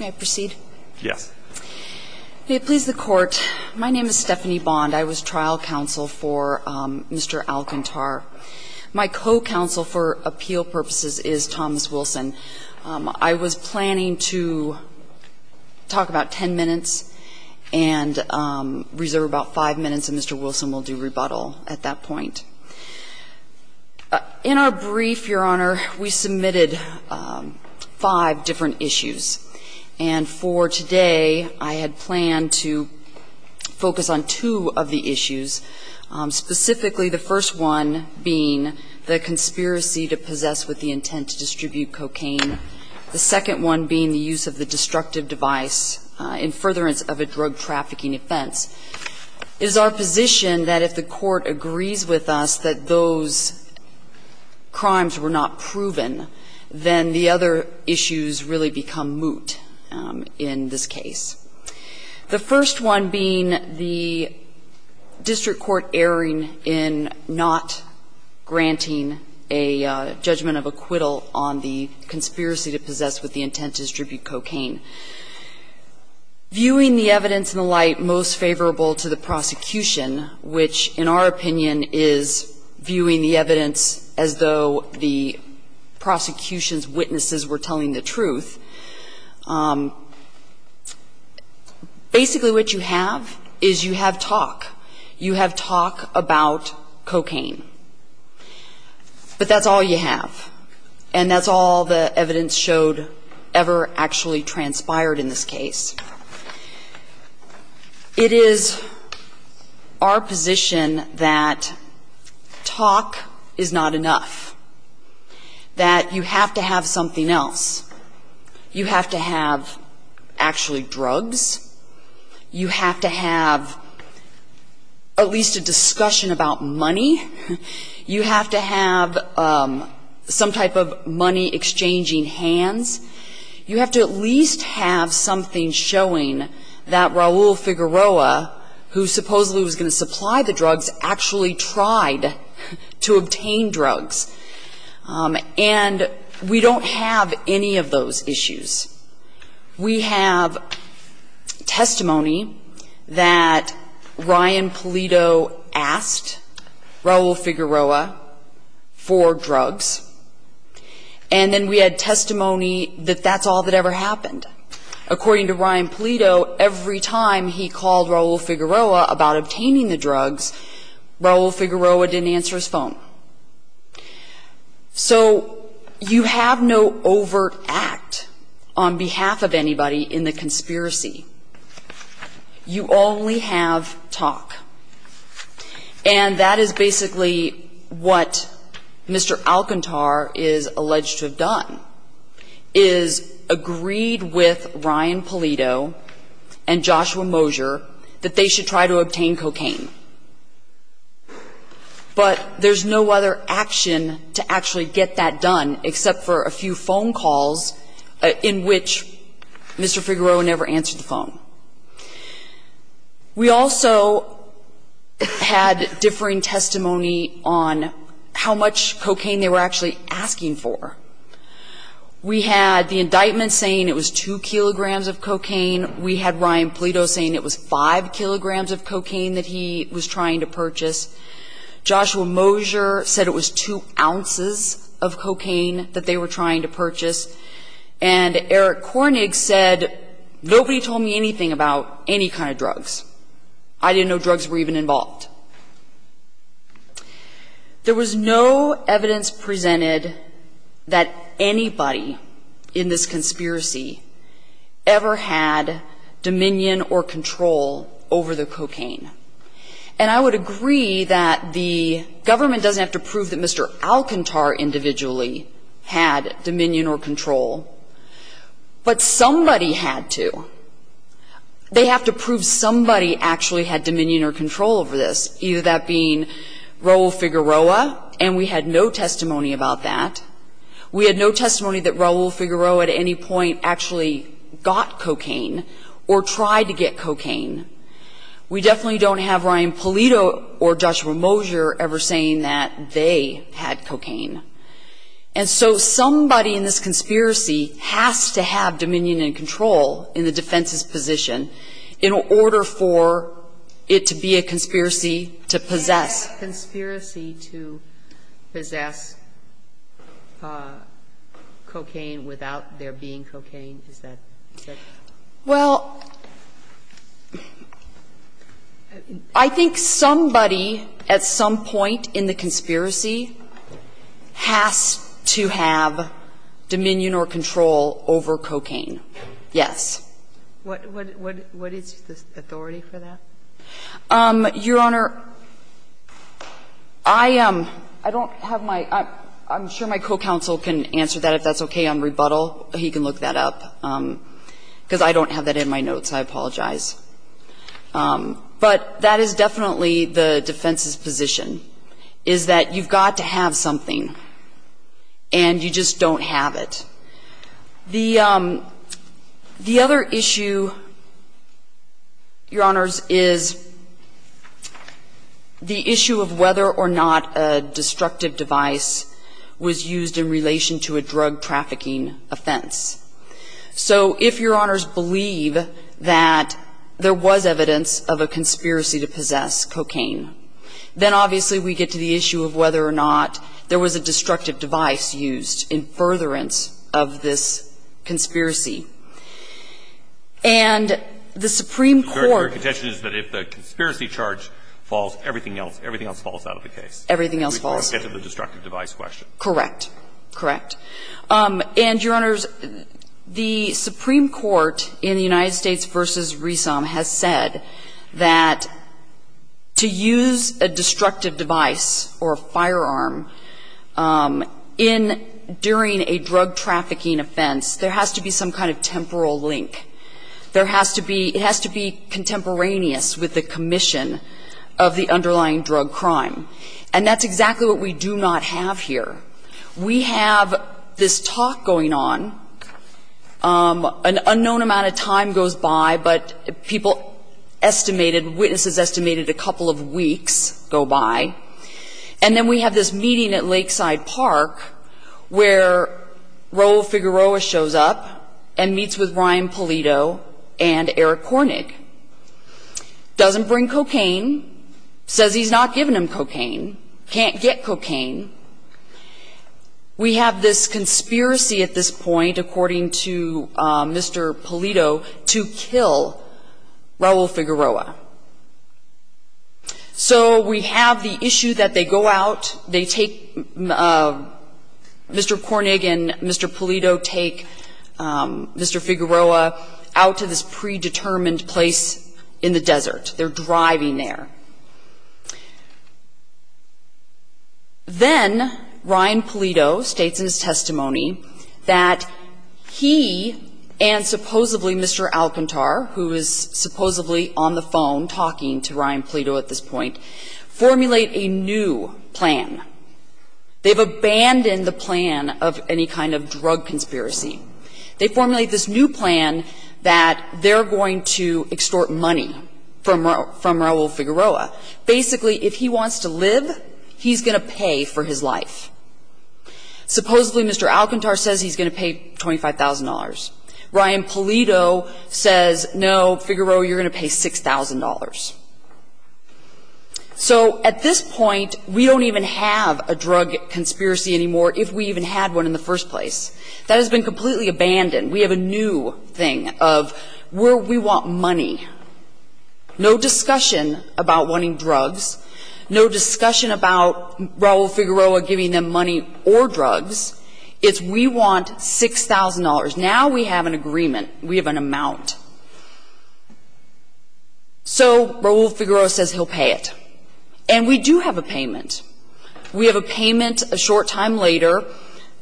May I proceed? Yes. May it please the Court, my name is Stephanie Bond. I was trial counsel for Mr. Alcantar. My co-counsel for appeal purposes is Thomas Wilson. I was planning to talk about ten minutes and reserve about five minutes, and Mr. Wilson will do rebuttal at that point. In our brief, Your Honor, we submitted five different issues. And for today I had planned to focus on two of the issues, specifically the first one being the conspiracy to possess with the intent to distribute cocaine, the second one being the use of the destructive device in furtherance of a drug trafficking offense. It is our position that if the Court agrees with us that those crimes were not proven, then the other issues really become moot in this case. The first one being the district court erring in not granting a judgment of acquittal on the conspiracy to possess with the intent to distribute cocaine. Viewing the evidence in the light most favorable to the prosecution, which in our opinion is viewing the evidence as though the prosecution's witnesses were telling the truth, basically what you have is you have talk. You have talk about cocaine. But that's all you have. And that's all the evidence showed ever actually transpired in this case. It is our position that talk is not enough, that you have to have something else. You have to have actually drugs. You have to have at least a discussion about money. You have to have some type of money exchanging hands. You have to at least have something showing that Raul Figueroa, who supposedly was going to supply the drugs, actually tried to obtain drugs. And we don't have any of those issues. We have testimony that Ryan Polito asked Raul Figueroa for drugs. And then we had testimony that that's all that ever happened. According to Ryan Polito, every time he called Raul Figueroa about obtaining the drugs, Raul Figueroa didn't answer his phone. So you have no overt act on behalf of anybody in the conspiracy. You only have talk. And that is basically what Mr. Alcantar is alleged to have done, is agreed with Ryan Polito and Joshua Mosher that they should try to obtain cocaine. But there's no other action to actually get that done except for a few phone calls in which Mr. Figueroa never answered the phone. We also had differing testimony on how much cocaine they were actually asking for. We had the indictment saying it was 2 kilograms of cocaine. We had Ryan Polito saying it was 5 kilograms of cocaine that he was trying to purchase. Joshua Mosher said it was 2 ounces of cocaine that they were trying to purchase. And Eric Kornig said, nobody told me anything about any kind of drugs. I didn't know drugs were even involved. There was no evidence presented that anybody in this conspiracy ever had dominion or control over the cocaine. And I would agree that the government doesn't have to prove that Mr. Alcantar individually had dominion or control, but somebody had to. They have to prove somebody actually had dominion or control over this, either that being Raul Figueroa. And we had no testimony about that. We had no testimony that Raul Figueroa at any point actually got cocaine or tried to get cocaine. We definitely don't have Ryan Polito or Joshua Mosher ever saying that they had cocaine. And so somebody in this conspiracy has to have dominion and control in the defense's conspiracy to possess cocaine without there being cocaine. Is that fair? Well, I think somebody at some point in the conspiracy has to have dominion or control over cocaine, yes. What is the authority for that? Your Honor, I don't have my – I'm sure my co-counsel can answer that. If that's okay, on rebuttal, he can look that up, because I don't have that in my notes. I apologize. But that is definitely the defense's position, is that you've got to have something and you just don't have it. The other issue, Your Honors, is the issue of whether or not a destructive device was used in relation to a drug trafficking offense. So if Your Honors believe that there was evidence of a conspiracy to possess cocaine, then obviously we get to the issue of whether or not there was a destructive device used in furtherance of this conspiracy. And the Supreme Court – Your contention is that if the conspiracy charge falls, everything else – everything else falls out of the case. Everything else falls. We get to the destructive device question. Correct. Correct. And, Your Honors, the Supreme Court in the United States v. Resom has said that to use a destructive device or a firearm in – during a drug trafficking offense, there has to be some kind of temporal link. There has to be – it has to be contemporaneous with the commission of the underlying drug crime. And that's exactly what we do not have here. We have this talk going on. An unknown amount of time goes by, but people estimated – witnesses estimated a couple of weeks go by. And then we have this meeting at Lakeside Park where Raul Figueroa shows up and meets with Ryan Polito and Eric Kornig. Doesn't bring cocaine. Says he's not giving him cocaine. Can't get cocaine. We have this conspiracy at this point, according to Mr. Polito, to kill Raul Figueroa. So we have the issue that they go out, they take Mr. Kornig and Mr. Polito take Mr. Figueroa out to this predetermined place in the desert. They're driving there. Then Ryan Polito states in his testimony that he and supposedly Mr. Alcantar, who is supposedly on the phone talking to Ryan Polito at this point, formulate a new plan. They've abandoned the plan of any kind of drug conspiracy. They formulate this new plan that they're going to extort money from Raul Figueroa basically if he wants to live, he's going to pay for his life. Supposedly Mr. Alcantar says he's going to pay $25,000. Ryan Polito says, no, Figueroa, you're going to pay $6,000. So at this point, we don't even have a drug conspiracy anymore if we even had one in the first place. That has been completely abandoned. We have a new thing of where we want money. No discussion about wanting drugs. No discussion about Raul Figueroa giving them money or drugs. It's we want $6,000. Now we have an agreement. We have an amount. So Raul Figueroa says he'll pay it. And we do have a payment. We have a payment a short time later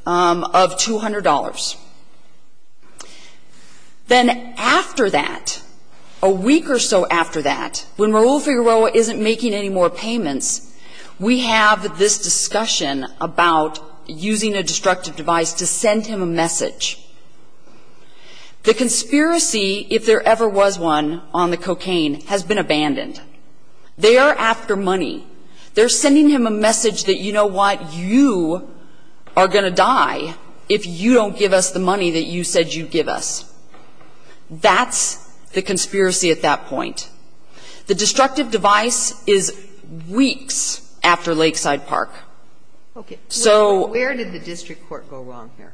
of $200. Then after that, a week or so after that, when Raul Figueroa isn't making any more payments, we have this discussion about using a destructive device to send him a message. The conspiracy, if there ever was one on the cocaine, has been abandoned. They are after money. They're sending him a message that, you know what, you are going to die if you don't give us the money that you said you'd give us. That's the conspiracy at that point. The destructive device is weeks after Lakeside Park. Okay. Where did the district court go wrong here?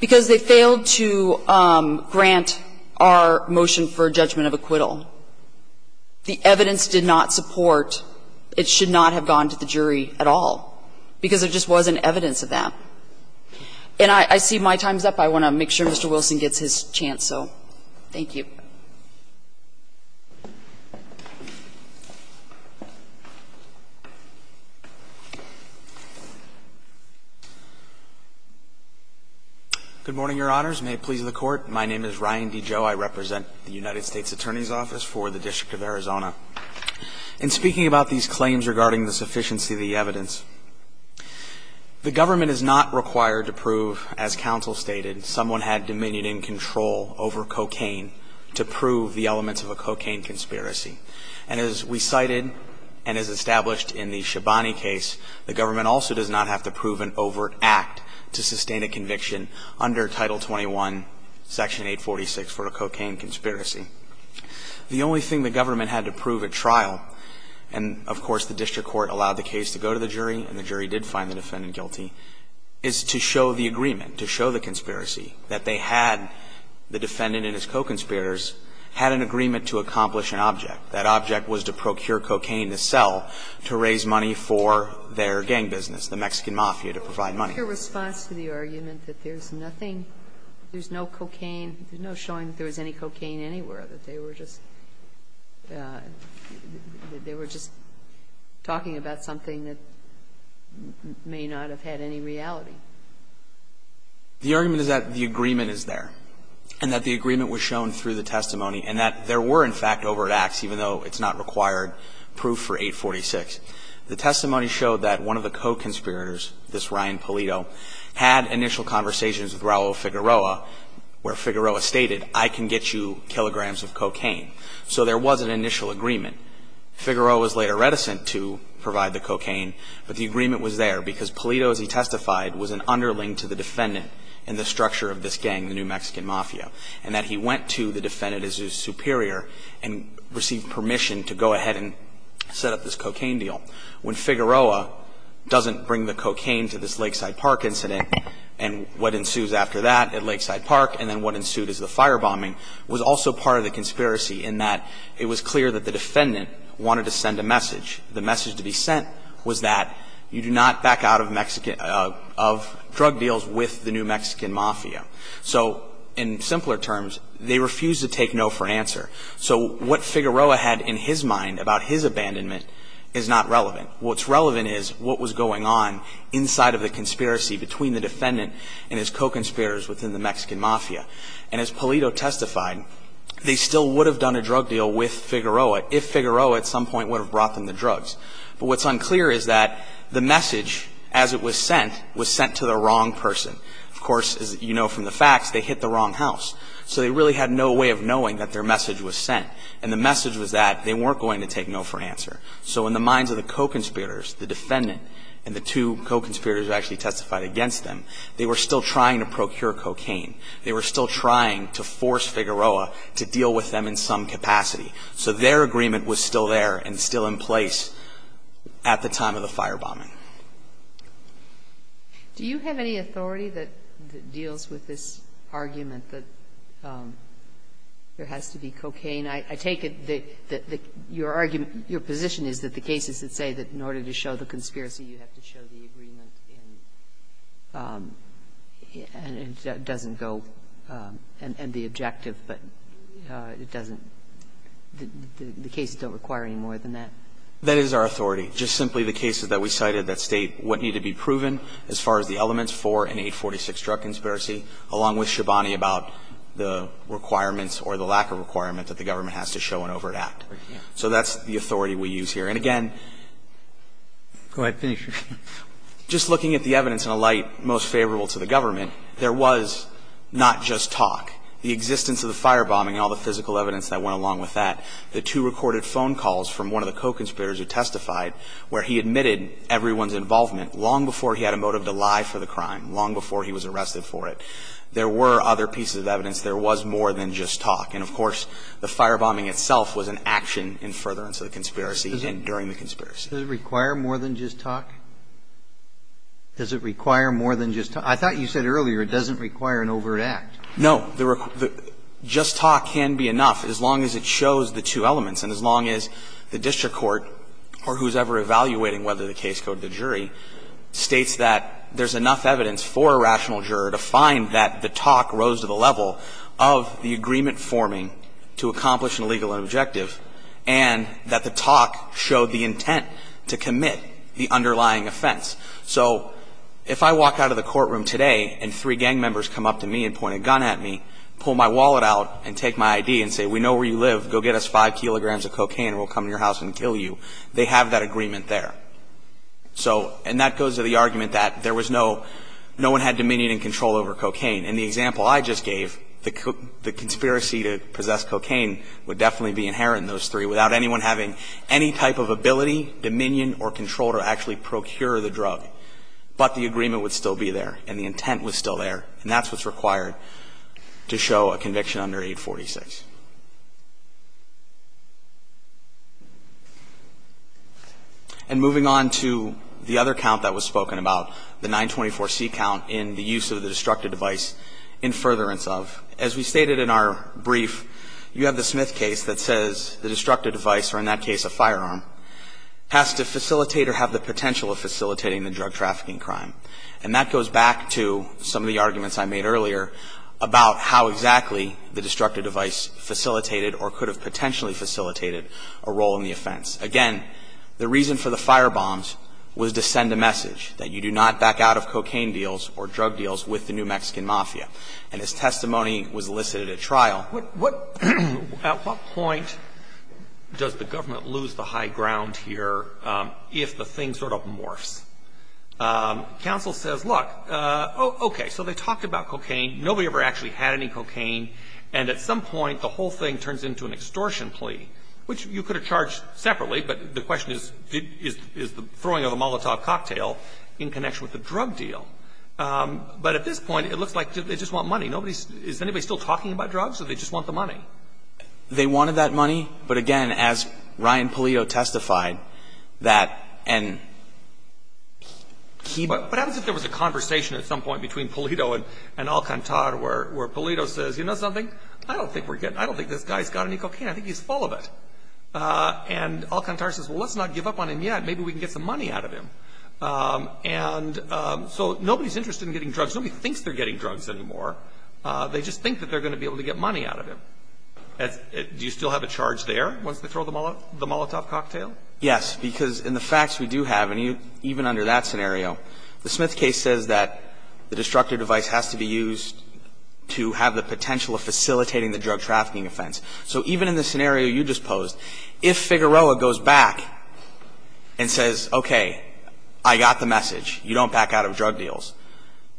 Because they failed to grant our motion for judgment of acquittal. The evidence did not support it should not have gone to the jury at all because there just wasn't evidence of that. And I see my time is up. I want to make sure Mr. Wilson gets his chance. So thank you. Good morning, Your Honors. May it please the Court. My name is Ryan DiGio. I represent the United States Attorney's Office for the District of Arizona. In speaking about these claims regarding the sufficiency of the evidence, the government does not require to prove, as counsel stated, someone had dominion and control over cocaine to prove the elements of a cocaine conspiracy. And as we cited and as established in the Shabani case, the government also does not have to prove an overt act to sustain a conviction under Title 21, Section 846, for a cocaine conspiracy. The only thing the government had to prove at trial, and of course the district court allowed the case to go to the jury and the jury did find the defendant guilty, is to show the agreement, to show the conspiracy, that they had, the defendant and his co-conspirators, had an agreement to accomplish an object. That object was to procure cocaine to sell to raise money for their gang business, the Mexican Mafia, to provide money. Your response to the argument that there's nothing, there's no cocaine, there's no showing that there was any cocaine anywhere, that they were just, they were just talking about something that may not have had any reality? The argument is that the agreement is there, and that the agreement was shown through the testimony, and that there were, in fact, overt acts, even though it's not required proof for 846. The testimony showed that one of the co-conspirators, this Ryan Polito, had initial conversations with Raul Figueroa, where Figueroa stated, I can get you kilograms of cocaine. So there was an initial agreement. Figueroa was later reticent to provide the cocaine, but the agreement was there because Polito, as he testified, was an underling to the defendant and the structure of this gang, the New Mexican Mafia, and that he went to the defendant, his superior, and received permission to go ahead and set up this cocaine deal. When Figueroa doesn't bring the cocaine to this Lakeside Park incident, and what ensues after that at Lakeside Park, and then what ensued is the firebombing, was also part of the conspiracy in that it was clear that the defendant wanted to send a message. The message to be sent was that you do not back out of drug deals with the New Mexican Mafia. So in simpler terms, they refused to take no for an answer. So what Figueroa had in his mind about his abandonment is not relevant. What's relevant is what was going on inside of the conspiracy between the defendant and his co-conspirators within the Mexican Mafia. And as Polito testified, they still would have done a drug deal with Figueroa if Figueroa at some point would have brought them the drugs. But what's unclear is that the message, as it was sent, was sent to the wrong person. Of course, as you know from the facts, they hit the wrong house. So they really had no way of knowing that their message was sent. And the message was that they weren't going to take no for an answer. So in the minds of the co-conspirators, the defendant and the two co-conspirators who actually testified against them, they were still trying to procure cocaine. They were still trying to force Figueroa to deal with them in some capacity. So their agreement was still there and still in place at the time of the firebombing. Do you have any authority that deals with this argument that there has to be cocaine? I take it that your argument, your position is that the cases that say that in order to show the conspiracy, you have to show the agreement and it doesn't go and the objective, but it doesn't, the cases don't require any more than that. That is our authority. Just simply the cases that we cited that state what needed to be proven as far as the elements for an 846 drug conspiracy, along with Shabani about the requirements or the lack of requirement that the government has to show an overt act. So that's the authority we use here. And again, just looking at the evidence in a light most favorable to the government, there was not just talk. The existence of the firebombing, all the physical evidence that went along with that, the two recorded phone calls from one of the co-conspirators who testified where he admitted everyone's involvement long before he had a motive to lie for the crime, long before he was arrested for it. There were other pieces of evidence. There was more than just talk. And of course, the firebombing itself was an action in furtherance of the conspiracy and during the conspiracy. Does it require more than just talk? Does it require more than just talk? I thought you said earlier it doesn't require an overt act. No. Just talk can be enough as long as it shows the two elements and as long as the district court, or who's ever evaluating whether the case go to the jury, states that there's enough evidence for a rational juror to find that the talk rose to the level of the intent to commit the underlying offense. So if I walk out of the courtroom today and three gang members come up to me and point a gun at me, pull my wallet out and take my ID and say, we know where you live. Go get us five kilograms of cocaine and we'll come to your house and kill you. They have that agreement there. So, and that goes to the argument that there was no, no one had dominion and control over cocaine. And the example I just gave, the conspiracy to possess cocaine would definitely be inherent in those three without anyone having any type of ability, dominion or control to actually procure the drug. But the agreement would still be there. And the intent was still there. And that's what's required to show a conviction under 846. And moving on to the other count that was spoken about, the 924C count in the use of the destructive device in furtherance of. As we stated in our brief, you have the Smith case that says the destructive device, or in that case, a firearm, has to facilitate or have the potential of facilitating the drug trafficking crime. And that goes back to some of the arguments I made earlier about how exactly the destructive device facilitated or could have potentially facilitated a role in the offense. Again, the reason for the firebombs was to send a message that you do not back out of cocaine deals or drug deals with the New Mexican Mafia. And his testimony was elicited at trial. What at what point does the government lose the high ground here if the thing sort of morphs? Counsel says, look, okay, so they talked about cocaine. Nobody ever actually had any cocaine. And at some point, the whole thing turns into an extortion plea, which you could have charged separately, but the question is, is the throwing of a Molotov cocktail in connection with the drug deal? But at this point, it looks like they just want money. Is anybody still talking about drugs, or they just want the money? They wanted that money. But again, as Ryan Polito testified, that and he, what happens if there was a conversation at some point between Polito and Alcantara where Polito says, you know something, I don't think we're getting, I don't think this guy's got any cocaine. I think he's full of it. And Alcantara says, well, let's not give up on him yet. Maybe we can get some money out of him. And so nobody's interested in getting drugs. Nobody thinks they're getting drugs anymore. They just think that they're going to be able to get money out of him. Do you still have a charge there once they throw the Molotov cocktail? Yes, because in the facts we do have, and even under that scenario, the Smith case says that the destructive device has to be used to have the potential of facilitating the drug trafficking offense. So even in the scenario you just posed, if Figueroa goes back and says, okay, I got the message. You don't back out of drug deals.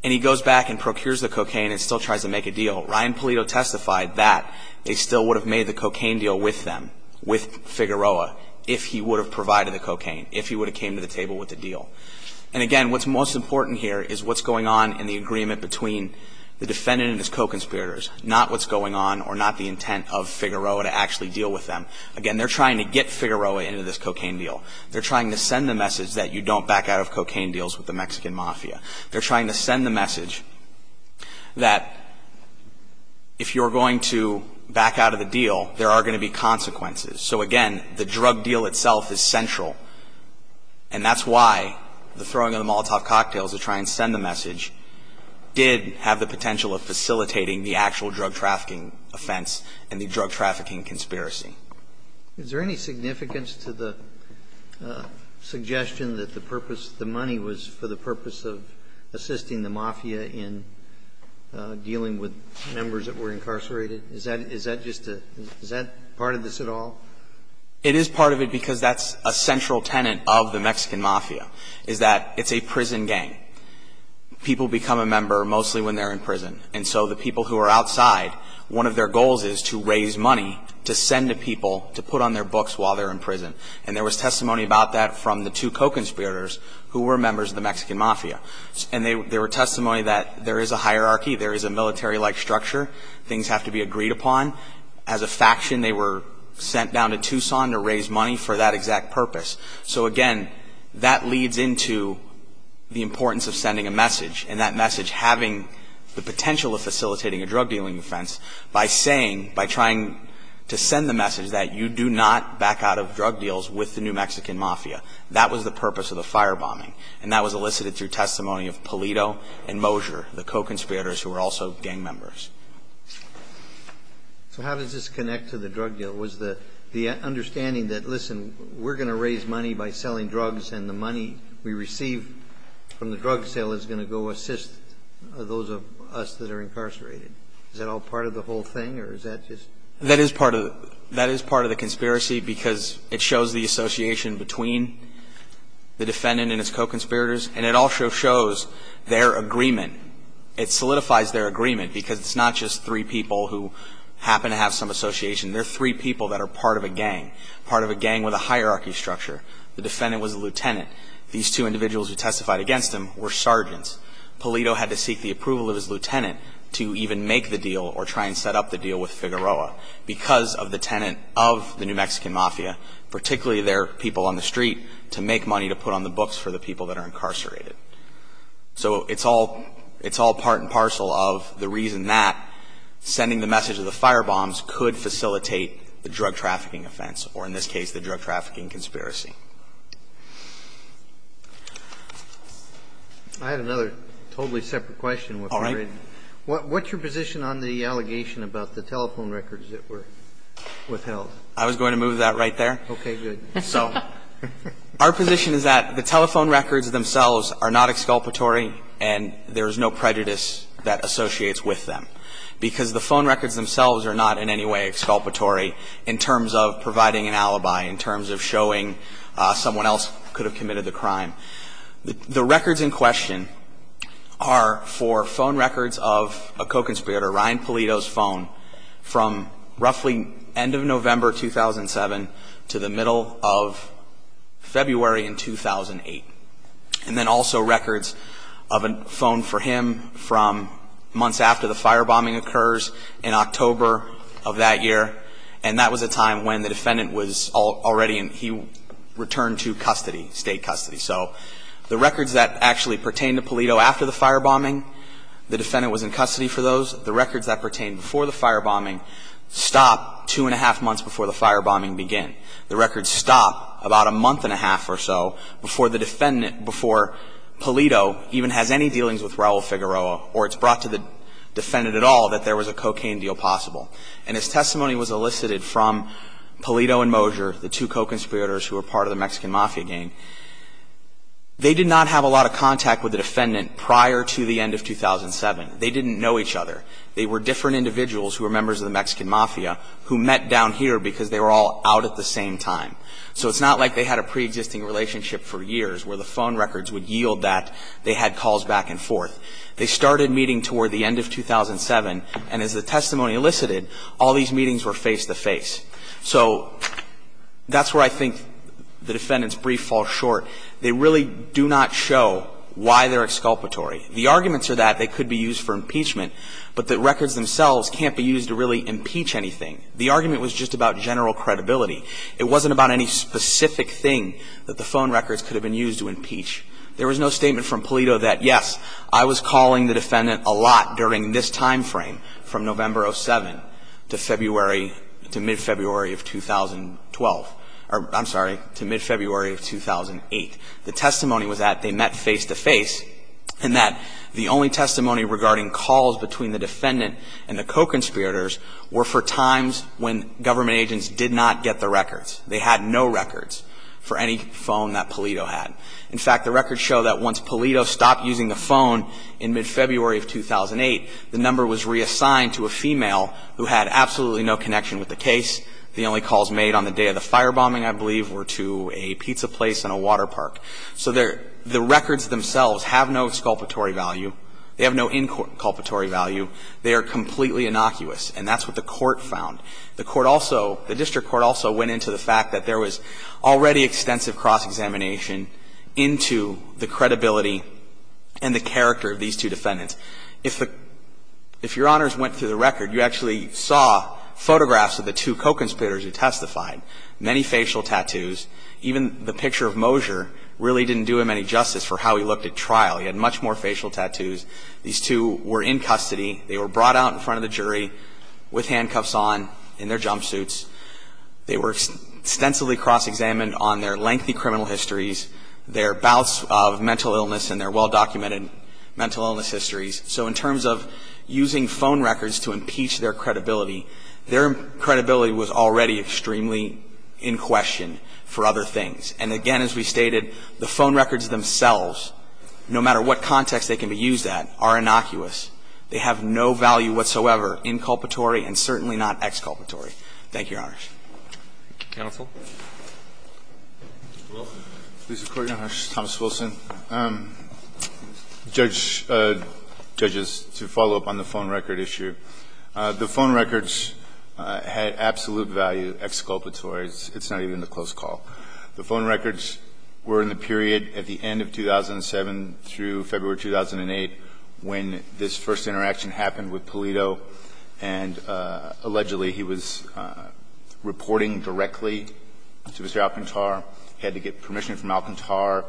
And he goes back and procures the cocaine and still tries to make a deal. Ryan Polito testified that they still would have made the cocaine deal with them, with Figueroa, if he would have provided the cocaine, if he would have came to the table with the deal. And again, what's most important here is what's going on in the agreement between the defendant and his co-conspirators, not what's going on or not the intent of Figueroa to actually deal with them. Again, they're trying to get Figueroa into this cocaine deal. They're trying to send the message that you don't back out of cocaine deals with the Mexican mafia. They're trying to send the message that if you're going to back out of the deal, there are going to be consequences. So, again, the drug deal itself is central, and that's why the throwing of the Molotov cocktails to try and send the message did have the potential of facilitating the actual drug trafficking offense and the drug trafficking conspiracy. Is there any significance to the suggestion that the purpose of the money was for the purpose of assisting the mafia in dealing with members that were incarcerated? Is that just a – is that part of this at all? It is part of it because that's a central tenet of the Mexican mafia, is that it's a prison gang. People become a member mostly when they're in prison. And so the people who are outside, one of their goals is to raise money to send to people to put on their books while they're in prison. And there was testimony about that from the two co-conspirators who were members of the Mexican mafia. And there were testimony that there is a hierarchy, there is a military-like structure, things have to be agreed upon. As a faction, they were sent down to Tucson to raise money for that exact purpose. So, again, that leads into the importance of sending a message, and that message having the potential of facilitating a drug dealing offense by saying, by trying to send the message that you do not back out of drug deals with the New Mexican mafia. That was the purpose of the firebombing, and that was elicited through testimony of Pulido and Moser, the co-conspirators who were also gang members. So how does this connect to the drug deal? Was the understanding that, listen, we're going to raise money by selling drugs and the money we receive from the drug sale is going to go assist those of us that are incarcerated? Is that all part of the whole thing, or is that just – That is part of the conspiracy, because it shows the association between the defendant and his co-conspirators, and it also shows their agreement. It solidifies their agreement, because it's not just three people who happen to have some association. There are three people that are part of a gang, part of a gang with a hierarchy structure. The defendant was a lieutenant. These two individuals who testified against him were sergeants. Pulido had to seek the approval of his lieutenant to even make the deal or try and set up the deal with Figueroa, because of the tenant of the New Mexican Mafia, particularly their people on the street, to make money to put on the books for the people that are incarcerated. So it's all part and parcel of the reason that sending the message of the firebombs could facilitate the drug trafficking offense, or in this case, the drug trafficking I have another totally separate question. All right. What's your position on the allegation about the telephone records that were withheld? I was going to move that right there. Okay, good. So our position is that the telephone records themselves are not exculpatory, and there is no prejudice that associates with them, because the phone records themselves are not in any way exculpatory in terms of providing an alibi, in terms of showing someone else could have committed the crime. The records in question are for phone records of a co-conspirator, Ryan Pulido's phone, from roughly end of November 2007 to the middle of February in 2008. And then also records of a phone for him from months after the firebombing occurs in October of that year, and that was a time when the defendant was already in, he returned to custody, state custody. So the records that actually pertain to Pulido after the firebombing, the defendant was in custody for those. The records that pertain before the firebombing stop two and a half months before the firebombing began. The records stop about a month and a half or so before the defendant, before Pulido even has any dealings with Raul Figueroa or it's brought to the defendant at all that there was a cocaine deal possible. And as testimony was elicited from Pulido and Moser, the two co-conspirators who were part of the Mexican Mafia gang, they did not have a lot of contact with the defendant prior to the end of 2007. They didn't know each other. They were different individuals who were members of the Mexican Mafia who met down here because they were all out at the same time. So it's not like they had a preexisting relationship for years where the phone records would yield that they had calls back and forth. They started meeting toward the end of 2007, and as the testimony elicited, all these meetings were face-to-face. So that's where I think the defendant's brief falls short. They really do not show why they're exculpatory. The arguments are that they could be used for impeachment, but the records themselves can't be used to really impeach anything. The argument was just about general credibility. It wasn't about any specific thing that the phone records could have been used to impeach. There was no statement from Palito that, yes, I was calling the defendant a lot during this time frame from November of 2007 to February, to mid-February of 2012 or, I'm sorry, to mid-February of 2008. The testimony was that they met face-to-face and that the only testimony regarding calls between the defendant and the co-conspirators were for times when government agents did not get the records. They had no records for any phone that Palito had. In fact, the records show that once Palito stopped using the phone in mid-February of 2008, the number was reassigned to a female who had absolutely no connection with the case. The only calls made on the day of the firebombing, I believe, were to a pizza place and a water park. So the records themselves have no exculpatory value. They have no inculpatory value. They are completely innocuous. And that's what the court found. The court also, the district court also went into the fact that there was already extensive cross-examination into the credibility and the character of these two defendants. If the, if Your Honors went through the record, you actually saw photographs of the two co-conspirators who testified, many facial tattoos. Even the picture of Mosier really didn't do him any justice for how he looked at trial. He had much more facial tattoos. These two were in custody. They were brought out in front of the jury with handcuffs on in their jumpsuits. They were extensively cross-examined on their lengthy criminal histories, their bouts of mental illness and their well-documented mental illness histories. So in terms of using phone records to impeach their credibility, their credibility was already extremely in question for other things. And again, as we stated, the phone records themselves, no matter what context they can be used at, are innocuous. They have no value whatsoever, inculpatory and certainly not exculpatory. Thank you, Your Honors. Roberts. Counsel. Wilson. Mr. Court, Your Honors. Thomas Wilson. Judge, judges, to follow up on the phone record issue. The phone records had absolute value, exculpatory. It's not even a close call. The phone records were in the period at the end of 2007 through February 2008 when this first interaction happened with Pulido. And allegedly he was reporting directly to Mr. Alcantar. He had to get permission from Alcantar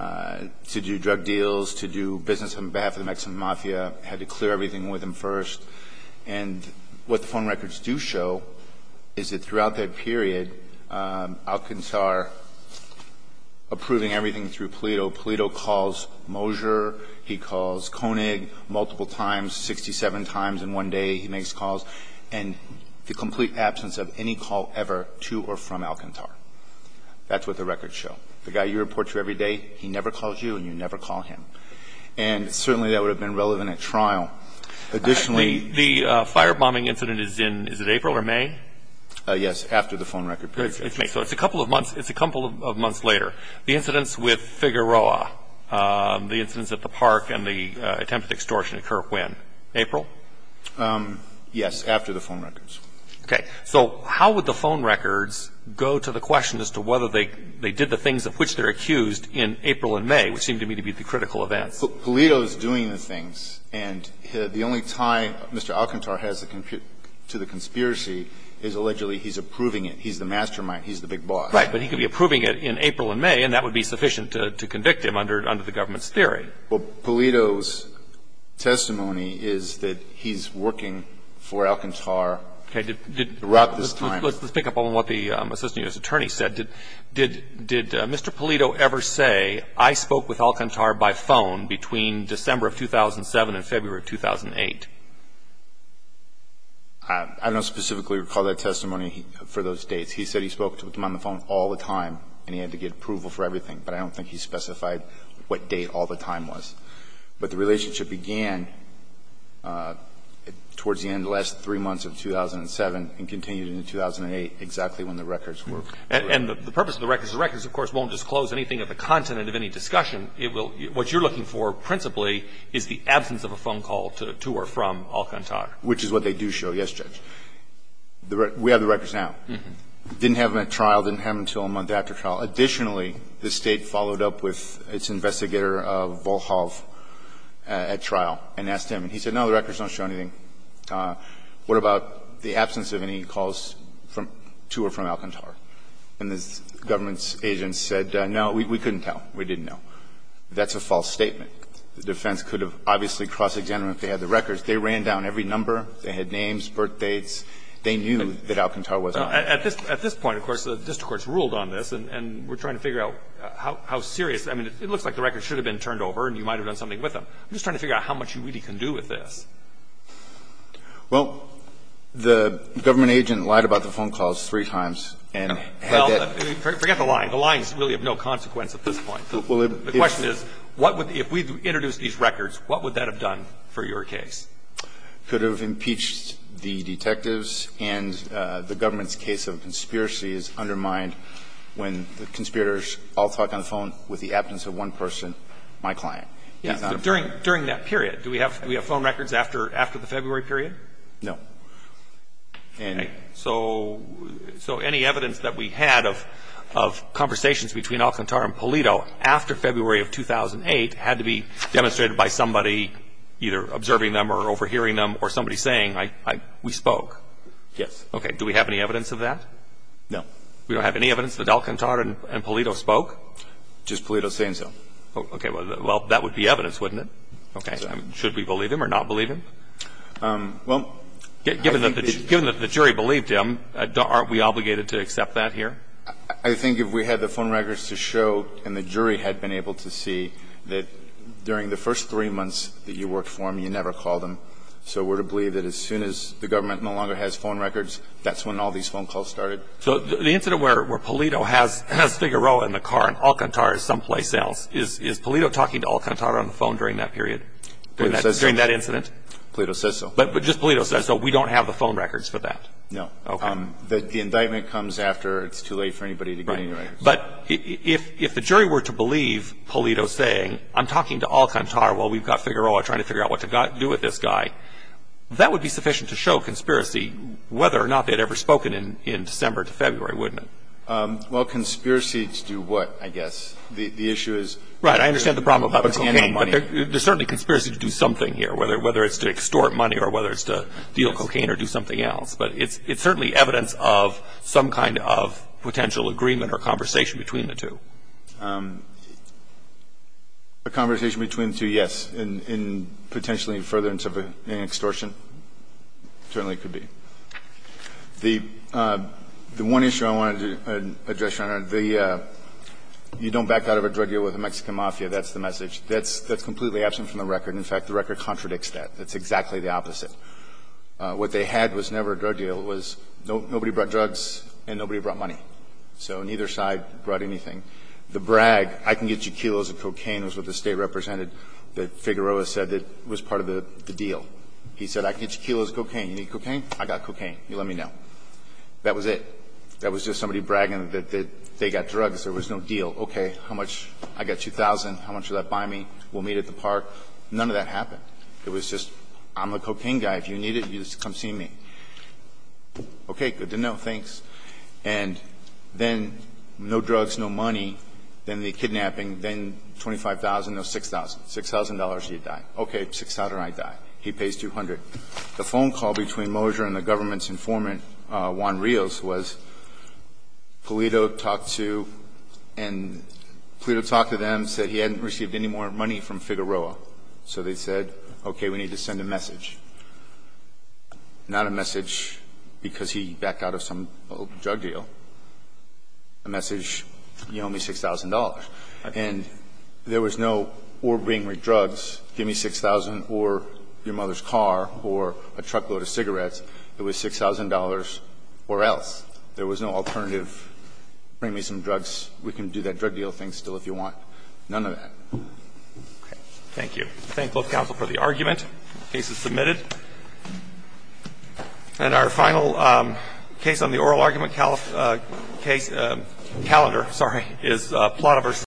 to do drug deals, to do business on behalf of the Mexican mafia, had to clear everything with him first. And what the phone records do show is that throughout that period, Alcantar approving everything through Pulido. Pulido calls Moser. He calls Koenig multiple times, 67 times in one day he makes calls. And the complete absence of any call ever to or from Alcantar. That's what the records show. The guy you report to every day, he never calls you and you never call him. And certainly that would have been relevant at trial. Additionally. The firebombing incident is in, is it April or May? Yes, after the phone record period. It's May. So it's a couple of months later. The incidents with Figueroa, the incidents at the park and the attempted extortion occur when? April? Yes, after the phone records. Okay. So how would the phone records go to the question as to whether they did the things of which they're accused in April and May, which seem to me to be the critical events? Pulido is doing the things. And the only tie Mr. Alcantar has to the conspiracy is allegedly he's approving it. He's the mastermind. He's the big boss. Right. But he could be approving it in April and May and that would be sufficient to convict him under the government's theory. Well, Pulido's testimony is that he's working for Alcantar throughout this time. Okay. Let's pick up on what the assistant U.S. attorney said. Did Mr. Pulido ever say, I spoke with Alcantar by phone between December of 2007 and February of 2008? I don't specifically recall that testimony for those dates. He said he spoke with him on the phone all the time and he had to get approval for everything. But I don't think he specified what date all the time was. But the relationship began towards the end of the last three months of 2007 and continued into 2008, exactly when the records were. And the purpose of the records is the records, of course, won't disclose anything of the content of any discussion. What you're looking for principally is the absence of a phone call to or from Alcantar. Which is what they do show, yes, Judge. We have the records now. Didn't have them at trial, didn't have them until a month after trial. Additionally, the State followed up with its investigator of Volkhov at trial and asked him, and he said, no, the records don't show anything. What about the absence of any calls to or from Alcantar? And the government's agent said, no, we couldn't tell. We didn't know. That's a false statement. The defense could have obviously cross-examined them if they had the records. They ran down every number. They had names, birthdates. They knew that Alcantar was not there. At this point, of course, the district court has ruled on this, and we're trying to figure out how serious. I mean, it looks like the records should have been turned over and you might have done something with them. I'm just trying to figure out how much you really can do with this. Well, the government agent lied about the phone calls three times and had that Well, forget the lying. The lying is really of no consequence at this point. The question is, what would the – if we introduced these records, what would that have done for your case? Could have impeached the detectives, and the government's case of conspiracy is undermined when the conspirators all talk on the phone with the absence of one person, my client. During that period, do we have phone records after the February period? No. Okay. So any evidence that we had of conversations between Alcantar and Polito after February of 2008 had to be demonstrated by somebody either observing them or overhearing them or somebody saying, we spoke? Yes. Okay. Do we have any evidence of that? No. We don't have any evidence that Alcantar and Polito spoke? Just Polito saying so. Okay. Well, that would be evidence, wouldn't it? Okay. Should we believe him or not believe him? Well, I think that Given that the jury believed him, aren't we obligated to accept that here? I think if we had the phone records to show, and the jury had been able to see, that during the first three months that you worked for him, you never called him. So we're to believe that as soon as the government no longer has phone records, that's when all these phone calls started. So the incident where Polito has Figueroa in the car and Alcantar is someplace else, is Polito talking to Alcantar on the phone during that period, during that incident? Polito says so. But just Polito says so. We don't have the phone records for that? No. Okay. The indictment comes after it's too late for anybody to get any records. Right. But if the jury were to believe Polito saying, I'm talking to Alcantar while we've got Figueroa trying to figure out what to do with this guy, that would be sufficient to show conspiracy, whether or not they'd ever spoken in December to February, wouldn't it? Well, conspiracy to do what, I guess? The issue is Right. I understand the problem about the cocaine, but there's certainly conspiracy to do something here, whether it's to extort money or whether it's to deal cocaine or do something else. But it's certainly evidence of some kind of potential agreement or conversation between the two. A conversation between the two, yes, in potentially furtherance of an extortion, certainly could be. The one issue I wanted to address, Your Honor, the you don't back out of a drug deal with the Mexican mafia, that's the message. That's completely absent from the record. In fact, the record contradicts that. It's exactly the opposite. What they had was never a drug deal. It was nobody brought drugs and nobody brought money. So neither side brought anything. The brag, I can get you kilos of cocaine, was what the State represented that Figueroa said that was part of the deal. He said, I can get you kilos of cocaine. You need cocaine? I got cocaine. You let me know. That was it. That was just somebody bragging that they got drugs. There was no deal. Okay. How much? I got 2,000. How much will that buy me? We'll meet at the park. None of that happened. It was just I'm the cocaine guy. If you need it, you just come see me. Okay. Good to know. Thanks. And then no drugs, no money. Then the kidnapping. Then 25,000. No, 6,000. $6,000 and you die. Okay. 6,000 and I die. He pays 200. The phone call between Moser and the government's informant, Juan Rios, was Polito talked to and Polito talked to them, said he hadn't received any more money from Figueroa. So they said, okay, we need to send a message. Not a message because he backed out of some drug deal. A message, you owe me $6,000. And there was no or bring me drugs, give me 6,000, or your mother's car, or a truckload of cigarettes. It was $6,000 or else. There was no alternative. Bring me some drugs. We can do that drug deal thing still if you want. None of that. Okay. Thank you. Thank both counsel for the argument. The case is submitted. And our final case on the oral argument calendar is Plata v.